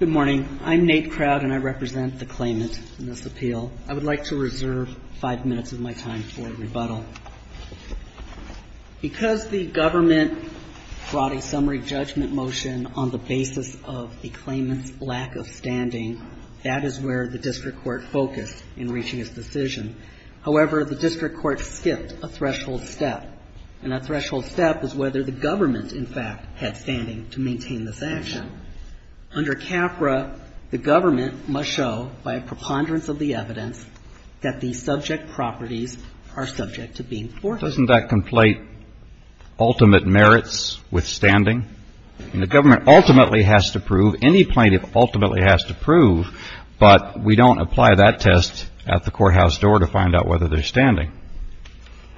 Good morning. I'm Nate Crowd and I represent the claimant in this appeal. I would like to reserve five minutes of my time for rebuttal. Because the government brought a summary judgment motion on the basis of the claimant's lack of standing, that is where the district court focused in reaching its decision. However, the district court skipped a threshold step. And that threshold step is whether the government, in fact, had standing to maintain this action. Under CAFRA, the government must show, by a preponderance of the evidence, that the subject properties are subject to being forfeited. Now, doesn't that conflate ultimate merits with standing? And the government ultimately has to prove, any plaintiff ultimately has to prove, but we don't apply that test at the courthouse door to find out whether they're standing.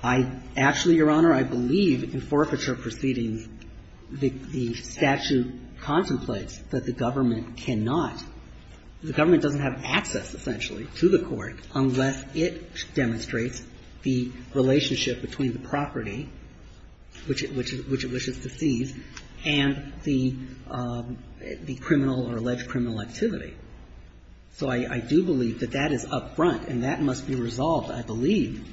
I actually, Your Honor, I believe in forfeiture proceedings, the statute contemplates that the government cannot, the government doesn't have access, essentially, to the court unless it demonstrates the relationship between the property, which it wishes to seize, and the criminal or alleged criminal activity. So I do believe that that is up front and that must be resolved, I believe,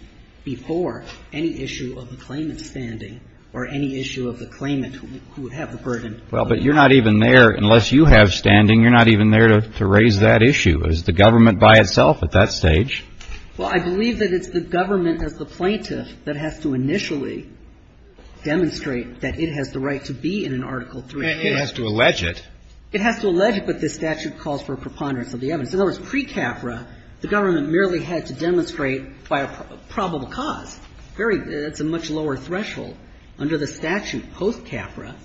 before any issue of the claimant's standing or any issue of the claimant who would have the burden. Well, but you're not even there, unless you have standing, you're not even there to raise that issue. Is the government by itself at that stage? Well, I believe that it's the government as the plaintiff that has to initially demonstrate that it has the right to be in an Article III case. And it has to allege it. It has to allege it, but this statute calls for a preponderance of the evidence. In other words, pre-CAFRA, the government merely had to demonstrate by a probable cause, very, that's a much lower threshold. Under the statute post-CAFRA,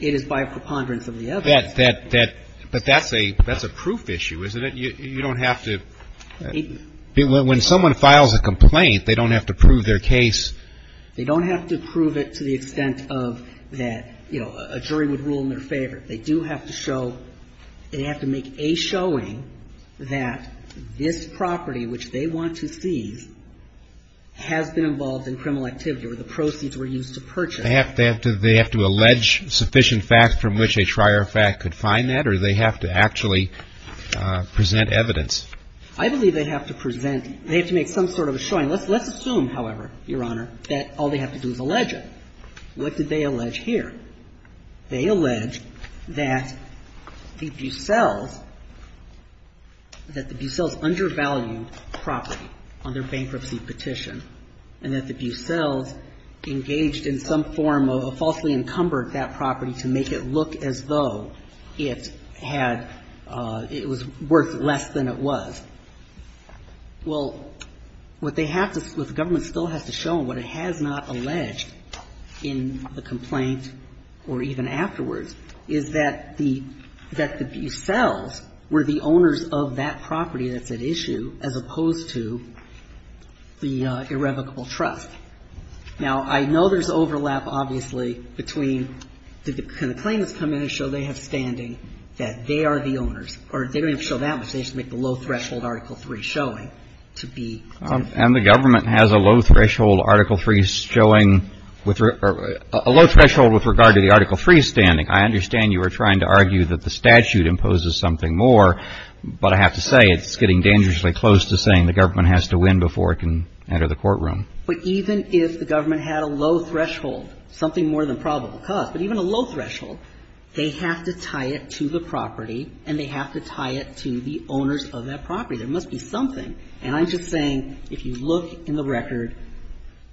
it is by a preponderance of the evidence. That, that, that, but that's a, that's a proof issue, isn't it? You don't have to, when someone files a complaint, they don't have to prove their case. They don't have to prove it to the extent of that, you know, a jury would rule in their favor. They do have to show, they have to make a showing that this property, which they want to seize, has been involved in criminal activity or the proceeds were used to purchase. They have to, they have to allege sufficient fact from which a trier of fact could find that, or they have to actually present evidence? I believe they have to present, they have to make some sort of a showing. Let's, let's assume, however, Your Honor, that all they have to do is allege it. What did they allege here? They allege that the Bucelles, that the Bucelles undervalued property on their bankruptcy petition, and that the Bucelles engaged in some form of a falsely encumbered that property to make it look as though it had, it was worth less than it was. Well, what they have to, what the government still has to show, and what it has not or even afterwards, is that the, that the Bucelles were the owners of that property that's at issue, as opposed to the irrevocable trust. Now, I know there's overlap, obviously, between, can the claimants come in and show they have standing, that they are the owners, or they don't have to show that, but they just make the low-threshold Article III showing to be. And the government has a low-threshold Article III showing, or a low-threshold with regard to the Article III standing. I understand you are trying to argue that the statute imposes something more, but I have to say it's getting dangerously close to saying the government has to win before it can enter the courtroom. But even if the government had a low-threshold, something more than probable cause, but even a low-threshold, they have to tie it to the property, and they have to tie it to the owners of that property. There must be something. And I'm just saying, if you look in the record,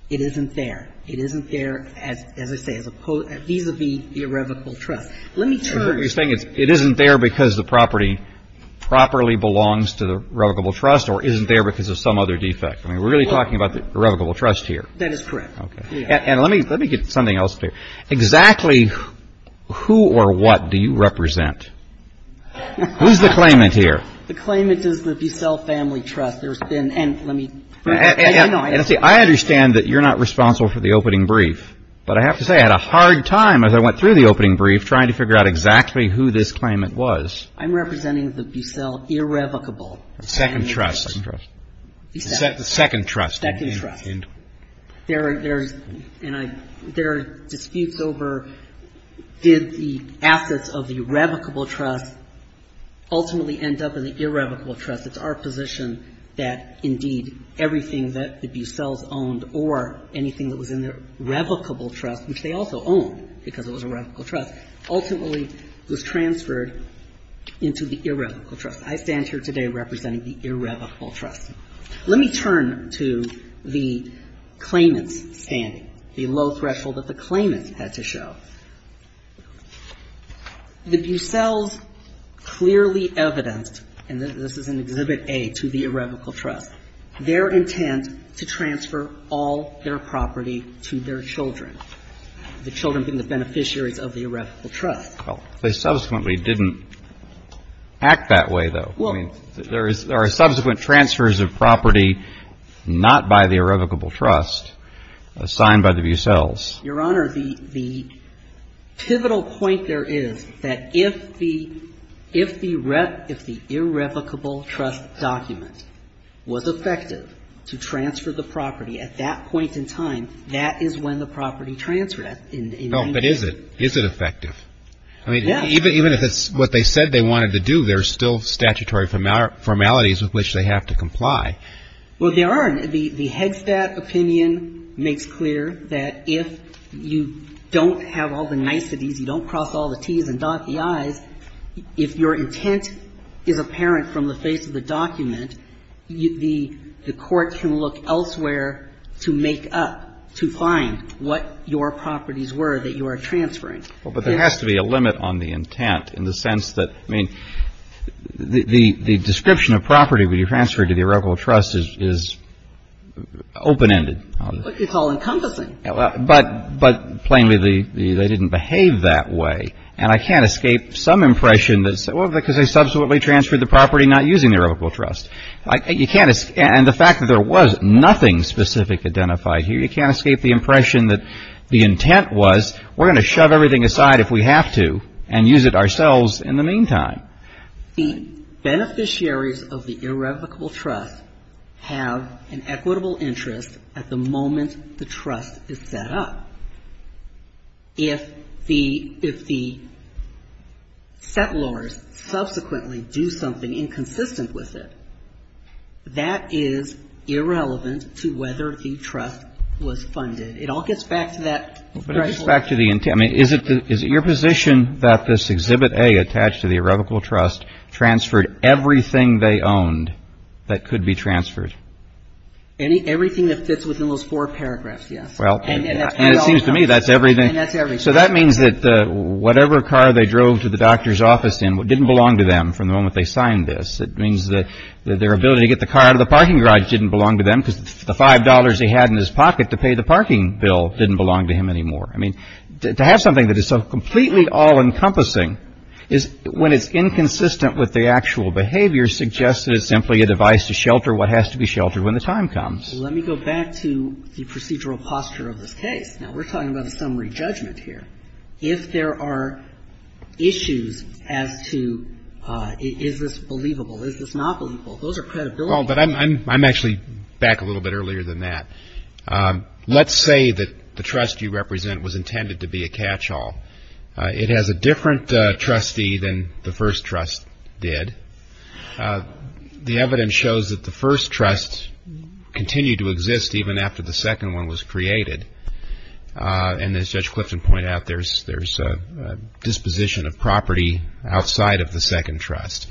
it isn't there. It isn't there, as I say, as opposed, vis-à-vis the irrevocable trust. Let me turn to you. It isn't there because the property properly belongs to the irrevocable trust or isn't there because of some other defect. I mean, we're really talking about the irrevocable trust here. That is correct. Okay. And let me get something else clear. Exactly who or what do you represent? Who's the claimant here? The claimant is the Bucelle Family Trust. There's been and let me. I understand that you're not responsible for the opening brief, but I have to say I had a hard time as I went through the opening brief trying to figure out exactly who this claimant was. I'm representing the Bucelle Irrevocable. Second trust. Second trust. The second trust. Second trust. And there are disputes over did the assets of the irrevocable trust ultimately end up in the irrevocable trust. It's our position that indeed everything that the Bucelles owned or anything that was in the revocable trust, which they also owned because it was a revocable trust, ultimately was transferred into the irrevocable trust. I stand here today representing the irrevocable trust. Let me turn to the claimant's standing, the low threshold that the claimant had to show. The Bucelles clearly evidenced, and this is in Exhibit A to the irrevocable trust, their intent to transfer all their property to their children, the children being the beneficiaries of the irrevocable trust. Well, they subsequently didn't act that way, though. I mean, there are subsequent transfers of property not by the irrevocable trust, assigned by the Bucelles. Your Honor, the pivotal point there is that if the irrevocable trust document was effective to transfer the property at that point in time, that is when the property transferred. No, but is it? Is it effective? I mean, even if it's what they said they wanted to do, there are still statutory formalities with which they have to comply. Well, there are. The Headstat opinion makes clear that if you don't have all the niceties, you don't cross all the T's and dot the I's, if your intent is apparent from the face of the document, the Court can look elsewhere to make up, to find what your properties were that you are transferring. Well, but there has to be a limit on the intent in the sense that, I mean, the description of property when you transfer it to the irrevocable trust is open-ended. What you call encompassing. But plainly, they didn't behave that way. And I can't escape some impression that, well, because they subsequently transferred the property not using the irrevocable trust. You can't, and the fact that there was nothing specific identified here, you can't escape the impression that the intent was, we're going to shove everything aside if we have to and use it ourselves in the meantime. The beneficiaries of the irrevocable trust have an equitable interest at the moment the trust is set up. If the settlers subsequently do something inconsistent with it, that is irrelevant to whether the trust was funded. It all gets back to that threshold. But it gets back to the intent. I mean, is it your position that this Exhibit A attached to the irrevocable trust transferred everything they owned that could be transferred? Everything that fits within those four paragraphs, yes. And it seems to me that's everything. And that's everything. So that means that whatever car they drove to the doctor's office in didn't belong to them from the moment they signed this. It means that their ability to get the car out of the parking garage didn't belong to them because the $5 they had in his pocket to pay the parking bill didn't belong to him anymore. I mean, to have something that is so completely all-encompassing is when it's inconsistent with the actual behavior suggests that it's simply a device to shelter what has to be sheltered when the time comes. Let me go back to the procedural posture of this case. Now, we're talking about a summary judgment here. If there are issues as to is this believable, is this not believable, those are credibility issues. Well, but I'm actually back a little bit earlier than that. Let's say that the trust you represent was intended to be a catch-all. It has a different trustee than the first trust did. The evidence shows that the first trust continued to exist even after the second one was created. And as Judge Clifton pointed out, there's a disposition of property outside of the second trust.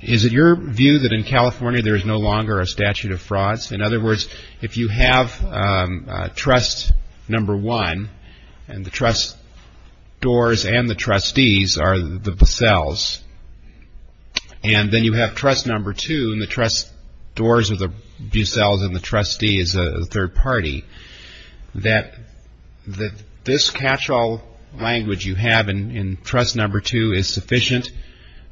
Is it your view that in California there is no longer a statute of frauds? In other words, if you have trust number one and the trust doors and the trustees are the Buccelles, and then you have trust number two and the trust doors are the Buccelles and the trustee is a third party, that this catch-all language you have in trust number two is sufficient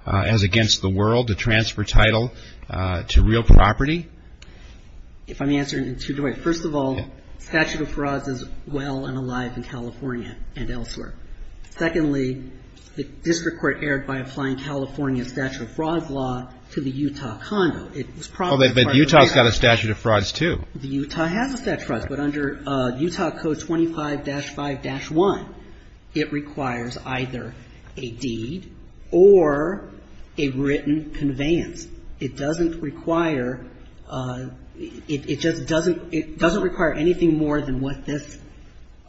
as against the world to transfer title to real property? If I may answer in two ways. First of all, statute of frauds is well and alive in California and elsewhere. Secondly, the district court erred by applying California's statute of frauds law to the Utah condo. But Utah's got a statute of frauds too. The Utah has a statute of frauds. But under Utah Code 25-5-1, it requires either a deed or a written conveyance. It doesn't require anything more than what this.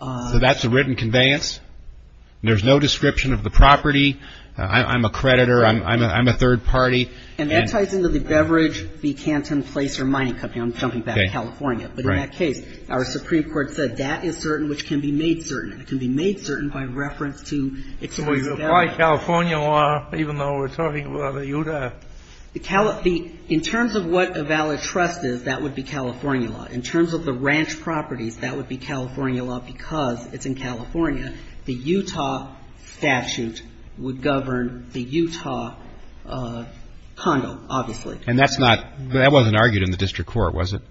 So that's a written conveyance? There's no description of the property? I'm a creditor. I'm a third party. And that ties into the beverage, the canton, place or mining company. I'm jumping back to California. But in that case, our Supreme Court said that is certain, which can be made certain. It can be made certain by reference to excessive beverage. So you apply California law even though we're talking about the Utah? In terms of what a valid trust is, that would be California law. In terms of the ranch properties, that would be California law because it's in California. The Utah statute would govern the Utah condo, obviously. And that's not, that wasn't argued in the district court, was it?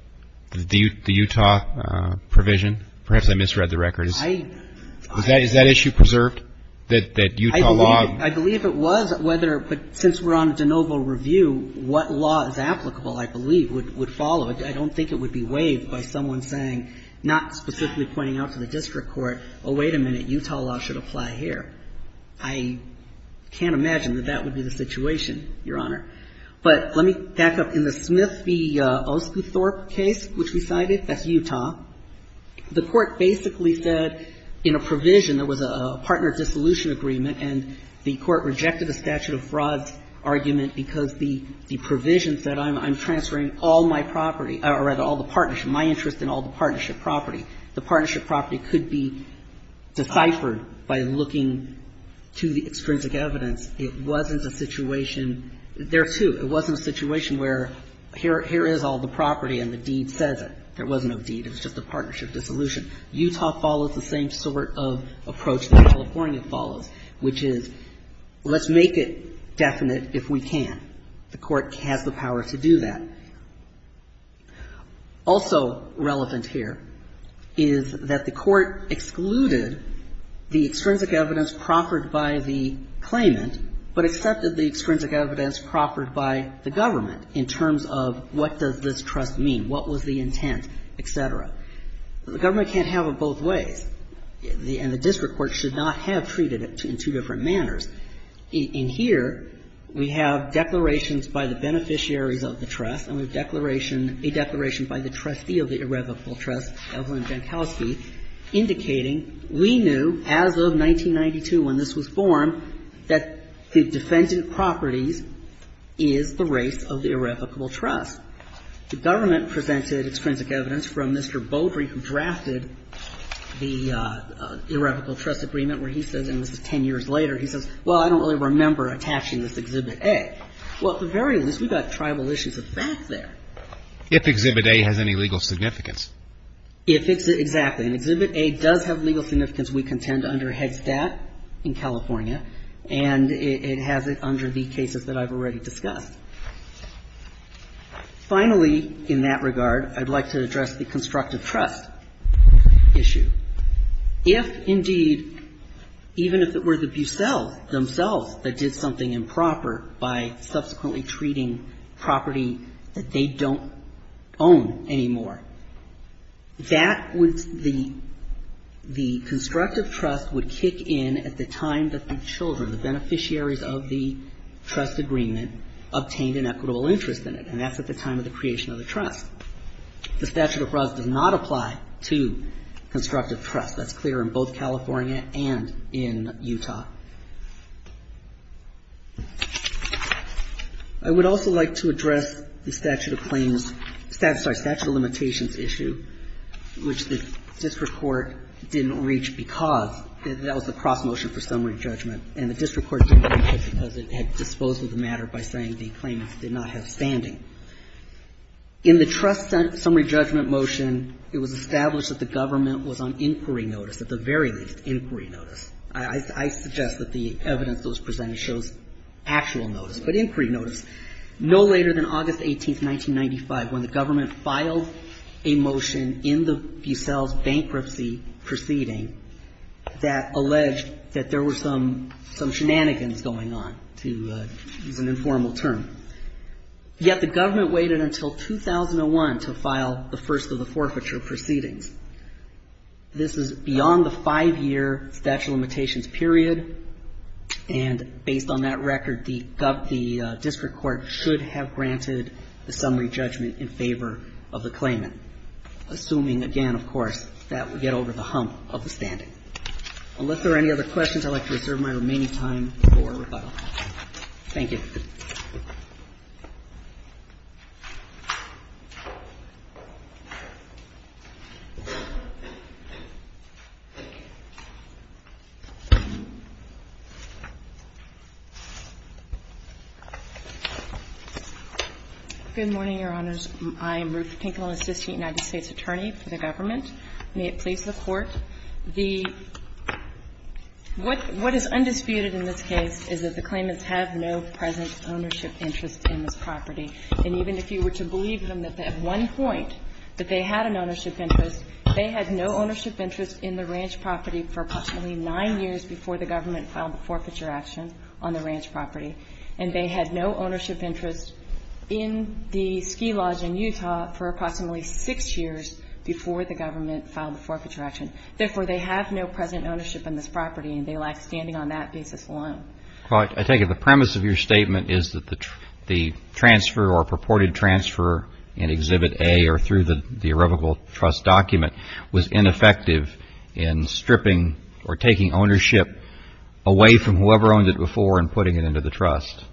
The Utah provision? Perhaps I misread the record. Is that issue preserved, that Utah law? I believe it was, but since we're on de novo review, what law is applicable, I believe, would follow. I don't think it would be waived by someone saying, not specifically pointing out to the district court, oh, wait a minute, Utah law should apply here. I can't imagine that that would be the situation, Your Honor. But let me back up. In the Smith v. Osguthorpe case, which we cited, that's Utah, the court basically said in a provision, there was a partner dissolution agreement, and the court rejected the statute of frauds argument because the provision said I'm transferring all my property, or rather all the partnership, my interest in all the partnership property. The partnership property could be deciphered by looking to the extrinsic evidence. It wasn't a situation, there too, it wasn't a situation where here is all the property and the deed says it. There was no deed. It was just a partnership dissolution. Utah follows the same sort of approach that California follows, which is let's make it definite if we can. The court has the power to do that. Also relevant here is that the court excluded the extrinsic evidence proffered by the claimant, but accepted the extrinsic evidence proffered by the government in terms of what does this trust mean, what was the intent, et cetera. The government can't have it both ways, and the district court should not have treated it in two different manners. In here, we have declarations by the beneficiaries of the trust and a declaration by the trustee of the irrevocable trust, Evelyn Jankowski, indicating we knew as of 1992 when this was formed that the defendant properties is the race of the irrevocable trust. The government presented extrinsic evidence from Mr. Bouldry, who drafted the irrevocable trust agreement where he says, and this is 10 years later, he says, well, I don't really remember attaching this Exhibit A. Well, at the very least, we've got tribal issues of fact there. If Exhibit A has any legal significance. Exactly. And Exhibit A does have legal significance, we contend, under Heads. Dat. in California, and it has it under the cases that I've already discussed. Finally, in that regard, I'd like to address the constructive trust issue. If, indeed, even if it were the Bucelles themselves that did something improper by subsequently treating property that they don't own anymore, that would, the constructive trust would kick in at the time that the children, the beneficiaries of the trust agreement obtained an equitable interest in it, and that's at the time of the creation of the trust. The statute of frauds does not apply to constructive trust. That's clear in both California and in Utah. I would also like to address the statute of claims, sorry, statute of limitations issue, which the district court didn't reach because that was the cross motion for summary judgment, and the district court didn't reach it because it had disposed of the matter by saying the claims did not have standing. In the trust summary judgment motion, it was established that the government was on inquiry notice, at the very least, inquiry notice. I suggest that the evidence that was presented shows actual notice, but inquiry notice no later than August 18, 1995, when the government filed a motion in the Bucelles bankruptcy proceeding that alleged that there were some shenanigans going on. To use an informal term. Yet the government waited until 2001 to file the first of the forfeiture proceedings. This is beyond the five-year statute of limitations period, and based on that record, the district court should have granted the summary judgment in favor of the claimant, assuming, again, of course, that we get over the hump of the standing. Unless there are any other questions, I'd like to reserve my remaining time for rebuttal. Thank you. Good morning, Your Honors. I'm Ruth Pinkland, assistant United States attorney for the government. May it please the Court. The – what is undisputed in this case is that the claimants have no present ownership interest in this property. And even if you were to believe them that at one point that they had an ownership interest, they had no ownership interest in the ranch property for approximately nine years before the government filed the forfeiture action on the ranch property, and they had no ownership interest in the ski lodge in Utah for approximately six years before the government filed the forfeiture action. Therefore, they have no present ownership in this property, and they lack standing on that basis alone. Well, I take it the premise of your statement is that the transfer or purported transfer in Exhibit A or through the irrevocable trust document was ineffective in stripping or taking ownership away from whoever owned it before and putting it into the trust.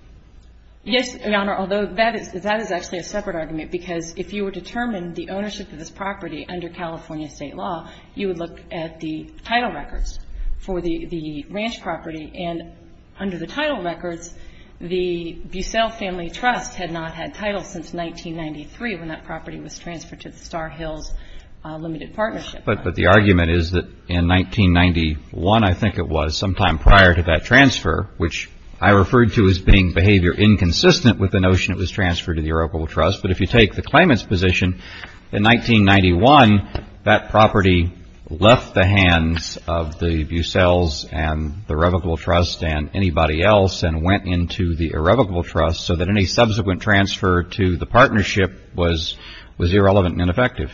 Yes, Your Honor, although that is actually a separate argument, because if you were to determine the ownership of this property under California state law, you would look at the title records for the ranch property, and under the title records, the Bussell Family Trust had not had titles since 1993 when that property was transferred to the Star Hills Limited Partnership. But the argument is that in 1991, I think it was, sometime prior to that transfer, which I referred to as being behavior inconsistent with the notion it was in 1991, that property left the hands of the Bussells and the irrevocable trust and anybody else and went into the irrevocable trust so that any subsequent transfer to the partnership was irrelevant and ineffective.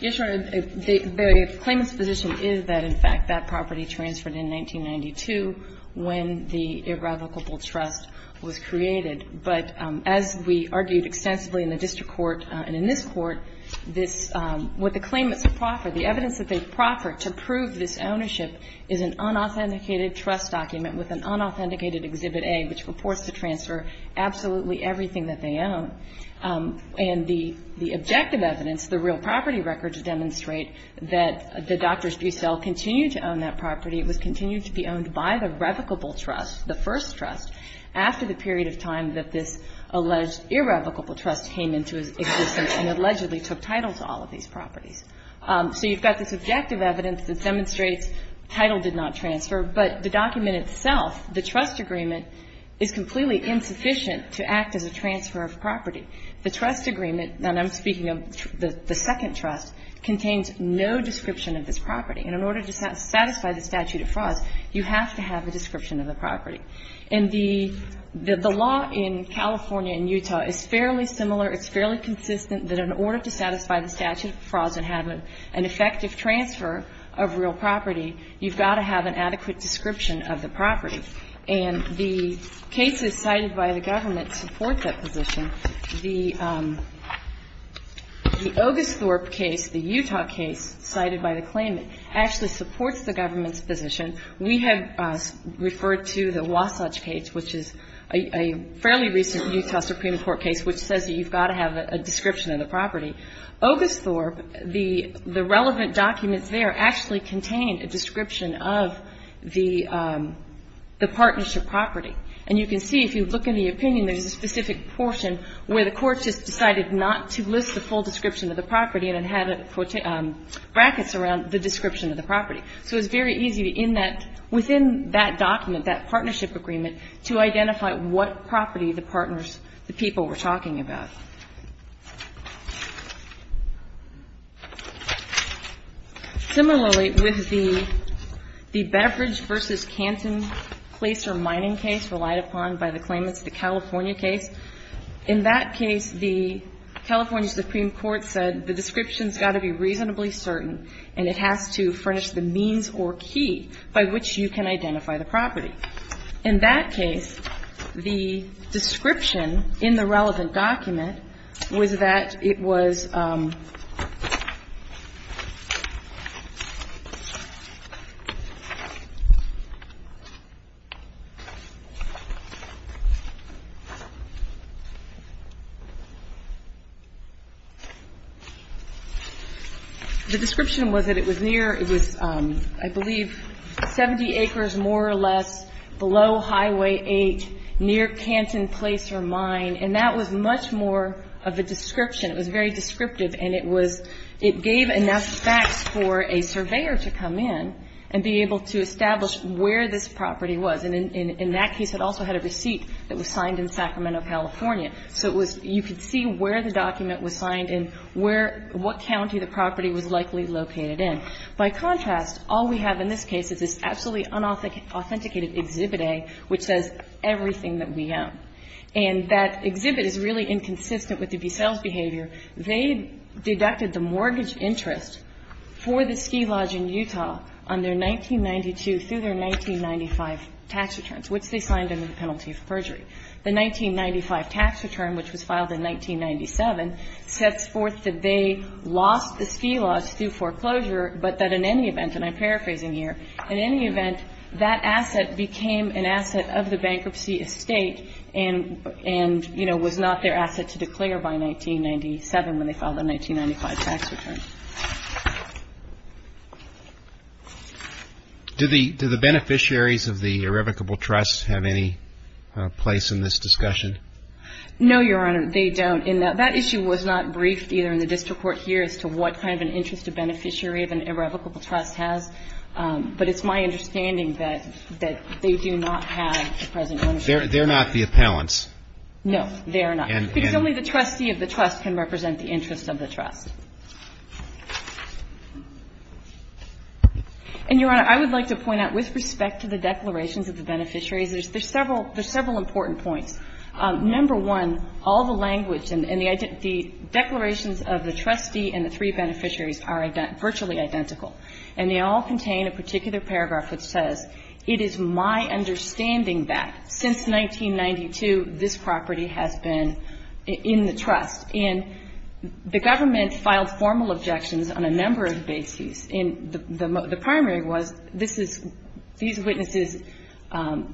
Yes, Your Honor, the claimant's position is that, in fact, that property transferred in 1992 when the irrevocable trust was created. But as we argued extensively in the district court and in this court, this what the claimants have proffered, the evidence that they've proffered to prove this ownership is an unauthenticated trust document with an unauthenticated Exhibit A, which purports to transfer absolutely everything that they own. And the objective evidence, the real property records demonstrate that the Doctors Bussell continued to own that property. It was continued to be owned by the revocable trust, the first trust, after the period of time that this alleged irrevocable trust came into existence and allegedly took title to all of these properties. So you've got this objective evidence that demonstrates title did not transfer, but the document itself, the trust agreement, is completely insufficient to act as a transfer of property. The trust agreement, and I'm speaking of the second trust, contains no description of this property. And in order to satisfy the statute of frauds, you have to have a description of the property. And the law in California and Utah is fairly similar. It's fairly consistent that in order to satisfy the statute of frauds and have an effective transfer of real property, you've got to have an adequate description of the property. And the cases cited by the government support that position. The Ogisthorpe case, the Utah case cited by the claimant, actually supports the government's position. We have referred to the Wasatch case, which is a fairly recent Utah Supreme Court case, which says that you've got to have a description of the property. Ogisthorpe, the relevant documents there actually contain a description of the partnership property. And you can see, if you look in the opinion, there's a specific portion where the court just decided not to list the full description of the property and it had brackets around the description of the property. So it's very easy to, in that, within that document, that partnership agreement, to identify what property the partners, the people were talking about. Similarly, with the Beverage v. Canton Glacier Mining case relied upon by the claimants, the California case, in that case, the California Supreme Court said the description has got to be reasonably certain and it has to furnish the means or key by which you can identify the property. In that case, the description in the relevant document was that it was the description was that it was near, it was, I believe, 70 acres more or less below Highway 8 near Canton Glacier Mine. And that was much more of a description. It was very descriptive and it was, it gave enough facts for a surveyor to come in and be able to establish where this property was. And in that case, it also had a receipt that was signed in Sacramento, California. So it was, you could see where the document was signed and where, what county the property was located in. By contrast, all we have in this case is this absolutely unauthenticated Exhibit A, which says everything that we own. And that exhibit is really inconsistent with the sales behavior. They deducted the mortgage interest for the ski lodge in Utah on their 1992 through their 1995 tax returns, which they signed under the penalty of perjury. The 1995 tax return, which was filed in 1997, sets forth that they lost the ski lodge due foreclosure, but that in any event, and I'm paraphrasing here, in any event, that asset became an asset of the bankruptcy estate and, you know, was not their asset to declare by 1997 when they filed the 1995 tax return. Do the beneficiaries of the irrevocable trust have any place in this discussion? No, Your Honor, they don't. That issue was not briefed either in the district court here as to what kind of an interest a beneficiary of an irrevocable trust has. But it's my understanding that they do not have the present benefit. They're not the appellants. No, they are not. Because only the trustee of the trust can represent the interest of the trust. And, Your Honor, I would like to point out, with respect to the declarations of the beneficiaries, there's several important points. Number one, all the language and the declarations of the trustee and the three beneficiaries are virtually identical. And they all contain a particular paragraph which says, it is my understanding that since 1992 this property has been in the trust. And the government filed formal objections on a number of bases. And the primary was this is these witnesses,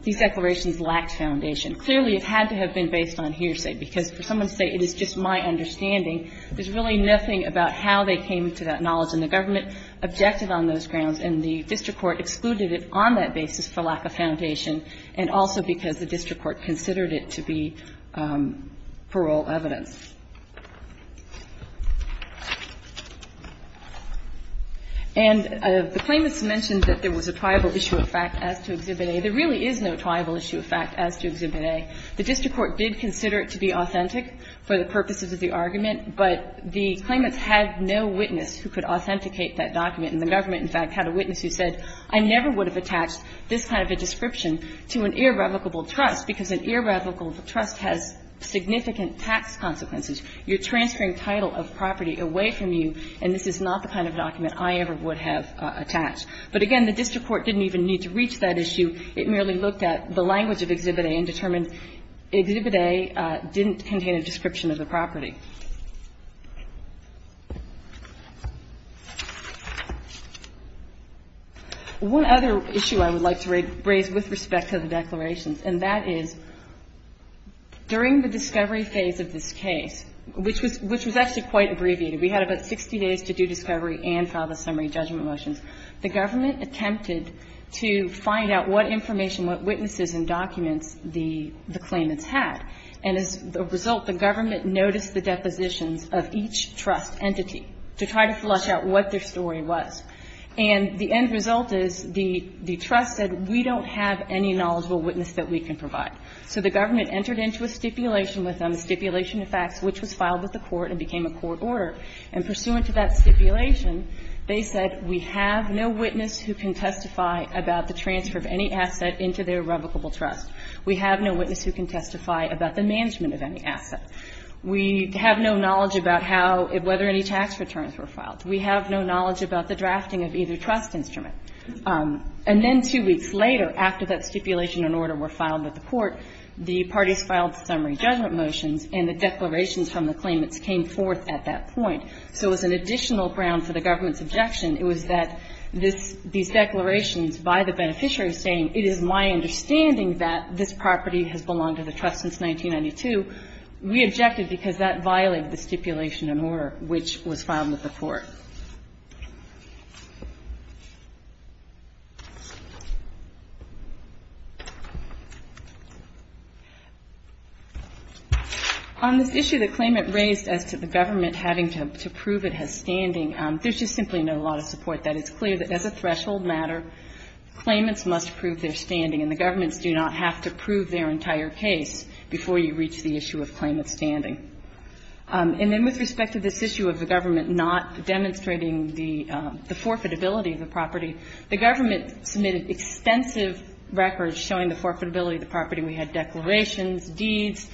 these declarations lacked foundation. Clearly, it had to have been based on hearsay, because for someone to say it is just my understanding, there's really nothing about how they came to that knowledge. And the government objected on those grounds, and the district court excluded it on that basis for lack of foundation and also because the district court considered it to be parole evidence. And the claimants mentioned that there was a triable issue of fact as to Exhibit A. There really is no triable issue of fact as to Exhibit A. The district court did consider it to be authentic for the purposes of the argument, but the claimants had no witness who could authenticate that document. And the government, in fact, had a witness who said, I never would have attached this kind of a description to an irrevocable trust, because an irrevocable trust has significant tax consequences. You're transferring title of property away from you, and this is not the kind of document I ever would have attached. But, again, the district court didn't even need to reach that issue. It merely looked at the language of Exhibit A and determined Exhibit A didn't contain a description of the property. One other issue I would like to raise with respect to the declarations, and that is, during the discovery phase of this case, which was actually quite abbreviated. We had about 60 days to do discovery and file the summary judgment motions. The government attempted to find out what information, what witnesses and documents the claimants had, and as a result, the government noticed the depositions of each trust entity to try to flush out what their story was. And the end result is the trust said, we don't have any knowledgeable witness that we can provide. So the government entered into a stipulation with them, a stipulation of facts, which was filed with the court and became a court order. And pursuant to that stipulation, they said, we have no witness who can testify about the transfer of any asset into their revocable trust. We have no witness who can testify about the management of any asset. We have no knowledge about how or whether any tax returns were filed. We have no knowledge about the drafting of either trust instrument. And then two weeks later, after that stipulation and order were filed with the court, the parties filed summary judgment motions, and the declarations from the claimants came forth at that point. So as an additional ground for the government's objection, it was that these declarations by the beneficiary saying, it is my understanding that this property has belonged to the trust since 1992, we objected because that violated the stipulation and order which was filed with the court. On this issue that claimant raised as to the government having to prove it has standing, there's just simply not a lot of support. That is clear that as a threshold matter, claimants must prove their standing, and the governments do not have to prove their entire case before you reach the issue of claimant standing. And then with respect to this issue of the government not demonstrating the forfeitability of the property, the government submitted extensive records showing the forfeitability of the property. We had declarations, deeds,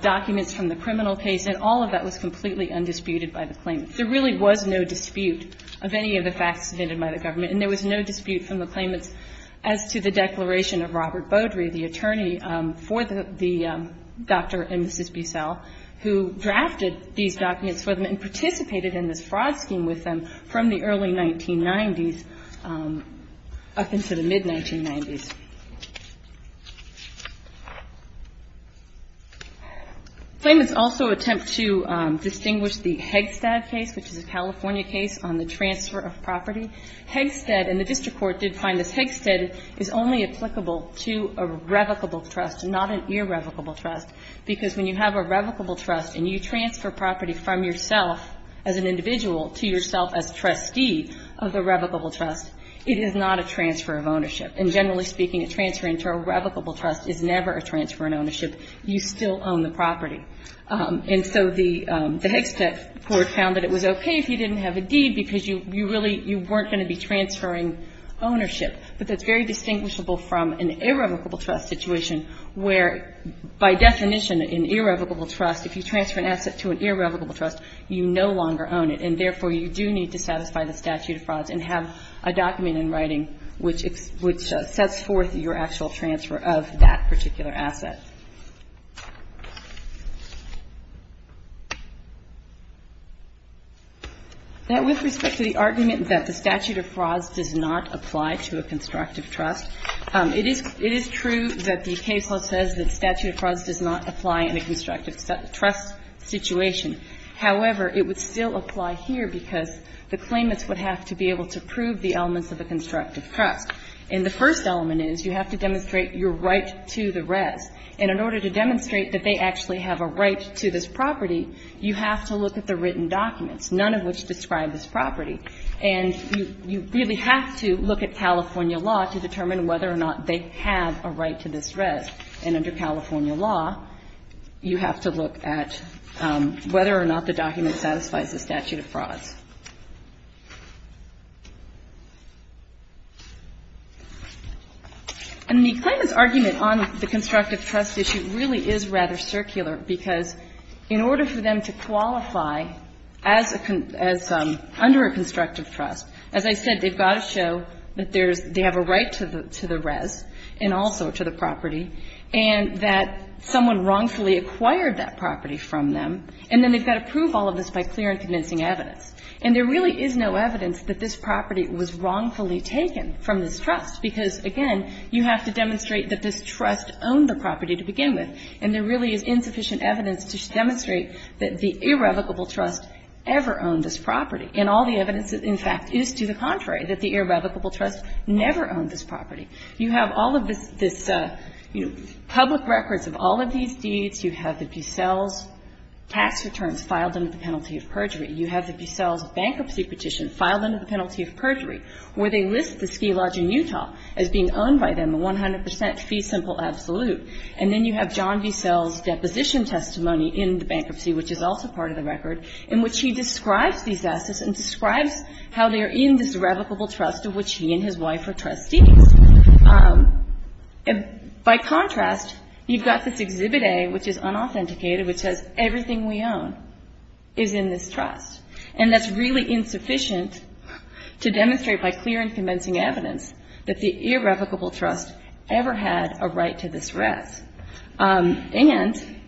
documents from the criminal case, and all of that was completely undisputed by the claimants. There really was no dispute of any of the facts submitted by the government, and there was no dispute from the claimants as to the declaration of Robert Beaudry, the attorney for the Dr. and Mrs. Bussell, who drafted these documents for them and participated in this fraud scheme with them from the early 1990s up into the mid-1990s. Claimants also attempt to distinguish the Hegstad case, which is a California case on the transfer of property. Hegstad, and the district court did find this, Hegstad is only applicable to a revocable trust, not an irrevocable trust, because when you have a revocable trust and you transfer property from yourself as an individual to yourself as trustee of the revocable trust, it is not a transfer of ownership. And generally speaking, a transfer into a revocable trust is never a transfer in ownership. You still own the property. And so the Hegstad court found that it was okay if you didn't have a deed because you really, you weren't going to be transferring ownership. But that's very distinguishable from an irrevocable trust situation, where by definition an irrevocable trust, if you transfer an asset to an irrevocable trust, you no longer own it, and therefore you do need to satisfy the statute of frauds and have a document in writing which sets forth your actual transfer of that particular asset. Now, with respect to the argument that the statute of frauds does not apply to a constructive trust, it is true that the case law says that statute of frauds does not apply in a constructive trust situation. However, it would still apply here because the claimants would have to be able to prove the elements of a constructive trust. And the first element is you have to demonstrate your right to the res. And in order to demonstrate that they actually have a right to this property, you have to look at the written documents, none of which describe this property. And you really have to look at California law to determine whether or not they have a right to this res. And under California law, you have to look at whether or not the document satisfies the statute of frauds. And the claimant's argument on the constructive trust issue really is rather circular because in order for them to qualify as a, as under a constructive trust, as I said, they've got to show that they have a right to the res and also to the property and that someone wrongfully acquired that property from them. And then they've got to prove all of this by clear and convincing evidence. And there really is no evidence that this property was wrongfully taken from this trust because, again, you have to demonstrate that this trust owned the property to begin with. And there really is insufficient evidence to demonstrate that the irrevocable trust ever owned this property. And all the evidence, in fact, is to the contrary, that the irrevocable trust never owned this property. You have all of this, you know, public records of all of these deeds. You have the Bissell's tax returns filed under the penalty of perjury. You have the Bissell's bankruptcy petition filed under the penalty of perjury where they list the ski lodge in Utah as being owned by them, a 100 percent fee simple absolute. And then you have John Bissell's deposition testimony in the bankruptcy, which is also part of the record, in which he describes these assets and describes how they are in this irrevocable trust of which he and his wife are trustees. By contrast, you've got this Exhibit A, which is unauthenticated, which says everything we own is in this trust. And that's really insufficient to demonstrate by clear and convincing evidence that the irrevocable trust ever had a right to this rest. And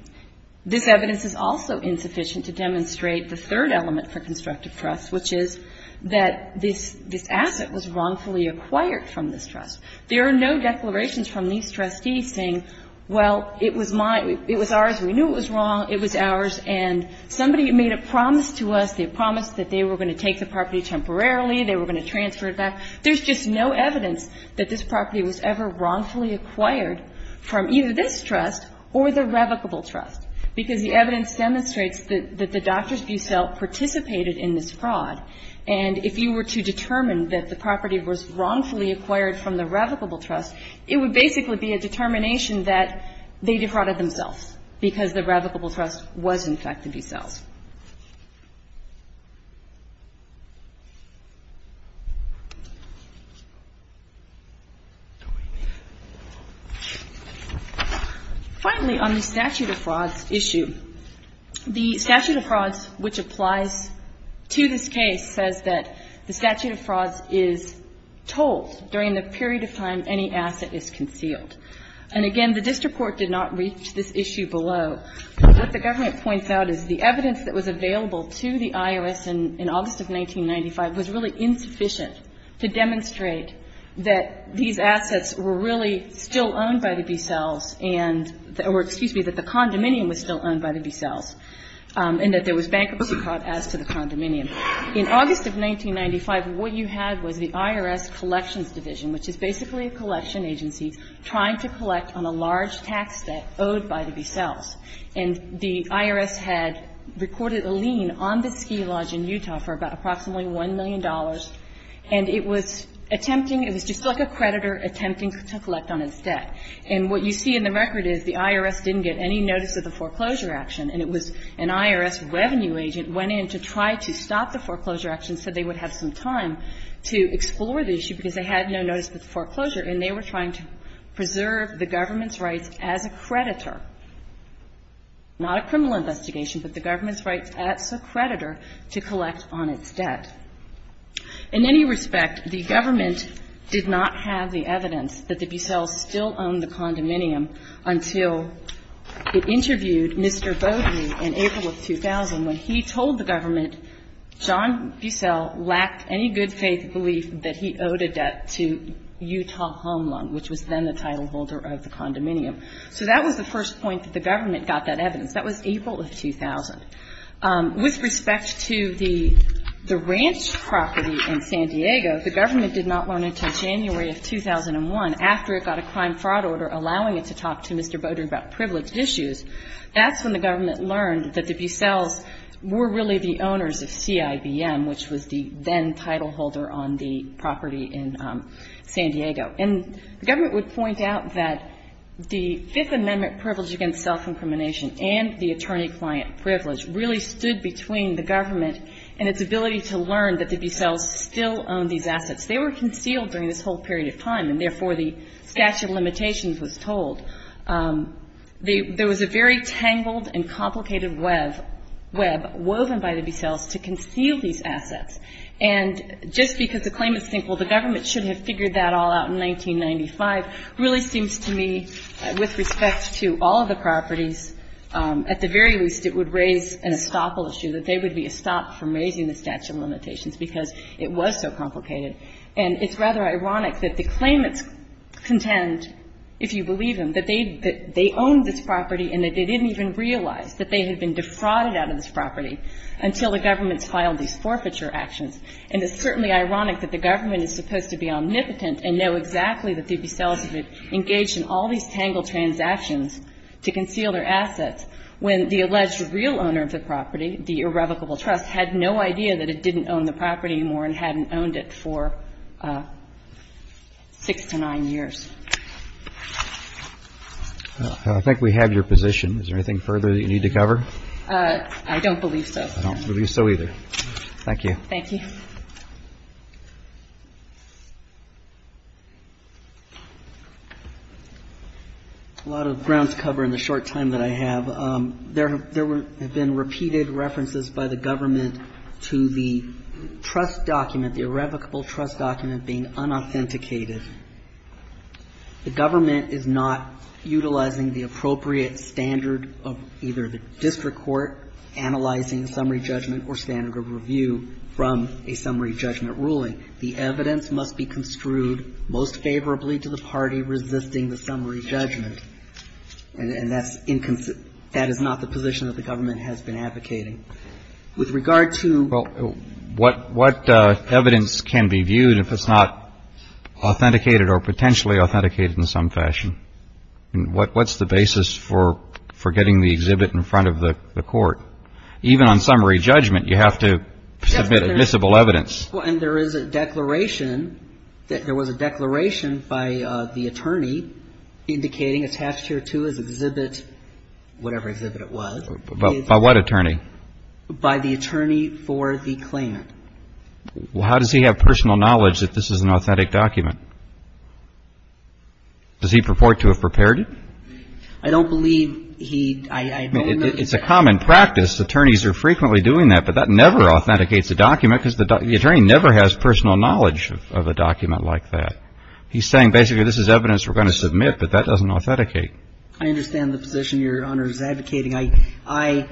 this evidence is also insufficient to demonstrate the third element for constructive trust, which is that this asset was wrongfully acquired from this trust. There are no declarations from these trustees saying, well, it was mine, it was ours, we knew it was wrong, it was ours, and somebody made a promise to us. They promised that they were going to take the property temporarily, they were going to transfer it back. There's just no evidence that this property was ever wrongfully acquired from either this trust or the revocable trust, because the evidence demonstrates that the Doctors Bucell participated in this fraud. And if you were to determine that the property was wrongfully acquired from the revocable trust, it would basically be a determination that they defrauded themselves, because the revocable trust was in fact the Bucells. Finally, on the statute of frauds issue, the statute of frauds, which applies to this case, says that the statute of frauds is told during the period of time any asset is concealed. And, again, the district court did not reach this issue below. The evidence that was available to the IRS in August of 1995 was really insufficient to demonstrate that these assets were really still owned by the Bucells and or, excuse me, that the condominium was still owned by the Bucells and that there was bankruptcy fraud as to the condominium. In August of 1995, what you had was the IRS Collections Division, which is basically a collection agency trying to collect on a large tax debt owed by the Bucells. And the IRS had recorded a lien on the ski lodge in Utah for about approximately $1 million, and it was attempting, it was just like a creditor attempting to collect on its debt. And what you see in the record is the IRS didn't get any notice of the foreclosure action, and it was an IRS revenue agent went in to try to stop the foreclosure action so they would have some time to explore the issue, because they had no notice of the foreclosure. And they were trying to preserve the government's rights as a creditor, not a criminal investigation, but the government's rights as a creditor to collect on its debt. In any respect, the government did not have the evidence that the Bucells still owned the condominium until it interviewed Mr. Beaudry in April of 2000 when he told the government John Bucell lacked any good faith belief that he owed a debt to the condominium in Utah home loan, which was then the title holder of the condominium. So that was the first point that the government got that evidence. That was April of 2000. With respect to the ranch property in San Diego, the government did not learn until January of 2001 after it got a crime fraud order allowing it to talk to Mr. Beaudry about privileged issues. That's when the government learned that the Bucells were really the owners of CIBM, which was the then title holder on the property in San Diego. And the government would point out that the Fifth Amendment privilege against self- incrimination and the attorney-client privilege really stood between the government and its ability to learn that the Bucells still owned these assets. They were concealed during this whole period of time, and therefore the statute of limitations was told. There was a very tangled and complicated web woven by the Bucells to conceal these assets. And just because the claimants think, well, the government should have figured that all out in 1995, really seems to me, with respect to all of the properties, at the very least it would raise an estoppel issue, that they would be estopped from raising the statute of limitations because it was so complicated. And it's rather ironic that the claimants contend, if you believe them, that they owned this property and that they didn't even realize that they had been defrauded out of this property until the government's filed these forfeiture actions. And it's certainly ironic that the government is supposed to be omnipotent and know exactly that the Bucells engaged in all these tangled transactions to conceal their assets when the alleged real owner of the property, the irrevocable trust, had no idea that it didn't own the property anymore and hadn't owned it for six to nine years. I think we have your position. Is there anything further that you need to cover? I don't believe so. I don't believe so either. Thank you. Thank you. A lot of grounds to cover in the short time that I have. There have been repeated references by the government to the trust document, the irrevocable trust document, being unauthenticated. The government is not utilizing the appropriate standard of either the district court analyzing the summary judgment or standard of review from a summary judgment ruling. The evidence must be construed most favorably to the party resisting the summary judgment. And that's inconsistent. That is not the position that the government has been advocating. With regard to ---- What evidence can be viewed if it's not authenticated or potentially authenticated in some fashion? What's the basis for getting the exhibit in front of the court? Even on summary judgment, you have to submit admissible evidence. And there is a declaration. There was a declaration by the attorney indicating attached here to his exhibit, whatever exhibit it was. By what attorney? By the attorney for the claimant. Well, how does he have personal knowledge that this is an authentic document? Does he purport to have prepared it? I don't believe he ---- It's a common practice. Attorneys are frequently doing that. But that never authenticates a document because the attorney never has personal knowledge of a document like that. He's saying basically this is evidence we're going to submit, but that doesn't authenticate. I understand the position Your Honor is advocating. I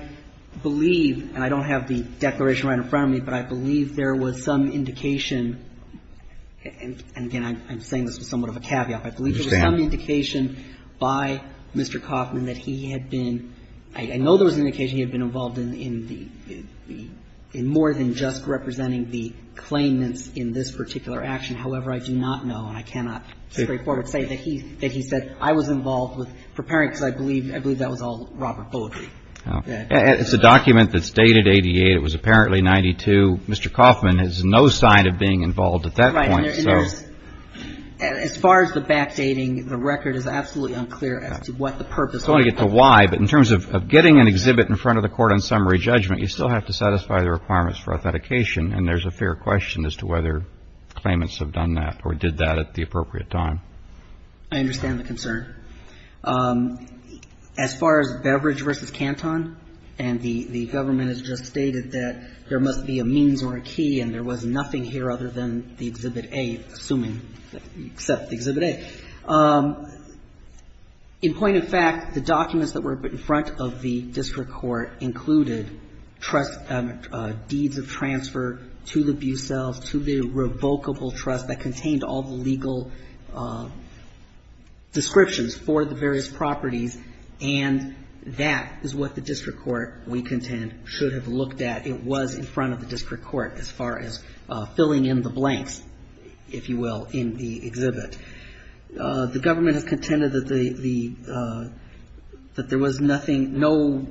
believe, and I don't have the declaration right in front of me, but I believe there was some indication, and again, I'm saying this with somewhat of a caveat, but I believe there was some indication by Mr. Kaufman that he had been ---- I know there was an indication he had been involved in the ---- in more than just representing the claimants in this particular action. However, I do not know and I cannot straightforward say that he said I was involved with preparing because I believe that was all Robert Bowdrey. It's a document that's dated 88. It was apparently 92. Mr. Kaufman has no sign of being involved at that point. Right. And there's ---- As far as the backdating, the record is absolutely unclear as to what the purpose of it was. I don't want to get to why, but in terms of getting an exhibit in front of the court on summary judgment, you still have to satisfy the requirements for authentication and there's a fair question as to whether claimants have done that or did that at the appropriate time. I understand the concern. As far as Beverage v. Canton, and the government has just stated that there must be a means or a key and there was nothing here other than the Exhibit A, assuming, except the Exhibit A. In point of fact, the documents that were put in front of the district court included trust ---- deeds of transfer to the Bucelles, to the revocable trust that contained all the legal descriptions for the various properties, and that is what the district court, we contend, should have looked at. It was in front of the district court as far as filling in the blanks, if you will, in the exhibit. The government has contended that the ---- that there was nothing, no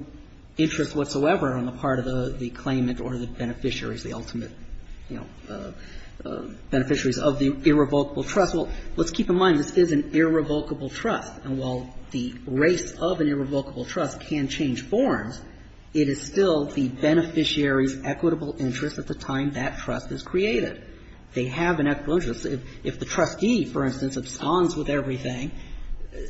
interest whatsoever on the part of the claimant or the beneficiaries, the ultimate, you know, irrevocable trust. Well, let's keep in mind this is an irrevocable trust. And while the race of an irrevocable trust can change forms, it is still the beneficiary's equitable interest at the time that trust is created. They have an equitable interest. If the trustee, for instance, abstains with everything,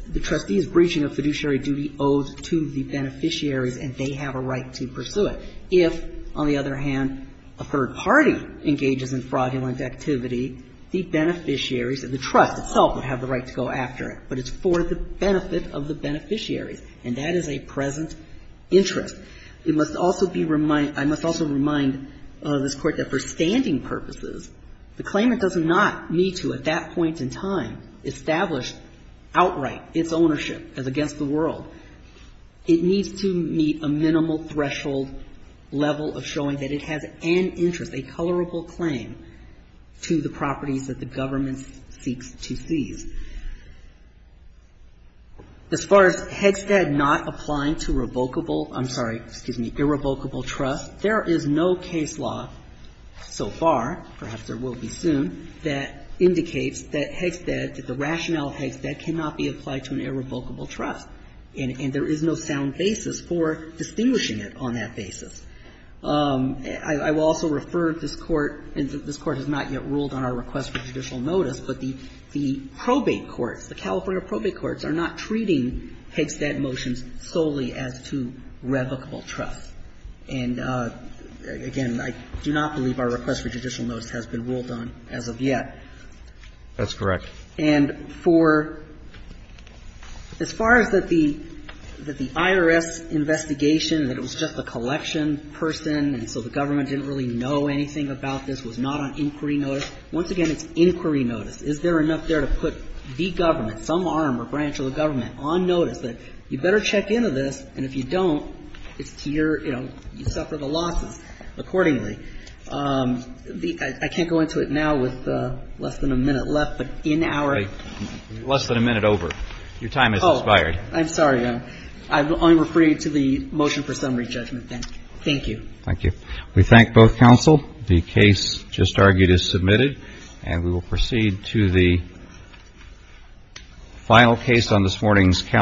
the trustee's breaching of fiduciary duty owes to the beneficiaries and they have a right to pursue it. If, on the other hand, a third party engages in fraudulent activity, the beneficiaries and the trust itself would have the right to go after it, but it's for the benefit of the beneficiaries, and that is a present interest. It must also be reminded ---- I must also remind this Court that for standing purposes, the claimant does not need to, at that point in time, establish outright its ownership as against the world. It needs to meet a minimal threshold level of showing that it has an interest, a colorable claim to the properties that the government seeks to seize. As far as Hegstead not applying to revocable ---- I'm sorry, excuse me, irrevocable trust, there is no case law so far, perhaps there will be soon, that indicates that Hegstead, that the rationale of Hegstead cannot be applied to an irrevocable trust, and there is no sound basis for distinguishing it on that basis. I will also refer to this Court, and this Court has not yet ruled on our request for judicial notice, but the probate courts, the California probate courts, are not treating Hegstead motions solely as to revocable trust. And, again, I do not believe our request for judicial notice has been ruled on as of yet. That's correct. And for ---- as far as that the IRS investigation, that it was just a collection person and so the government didn't really know anything about this, was not on inquiry notice, once again, it's inquiry notice. Is there enough there to put the government, some arm or branch of the government on notice that you better check into this, and if you don't, it's to your interest to, you know, you suffer the losses accordingly. I can't go into it now with less than a minute left, but in our ---- Less than a minute over. Your time has expired. Oh, I'm sorry. I will only refer you to the motion for summary judgment then. Thank you. Thank you. We thank both counsel. The case just argued is submitted, and we will proceed to the final case on this morning's calendar.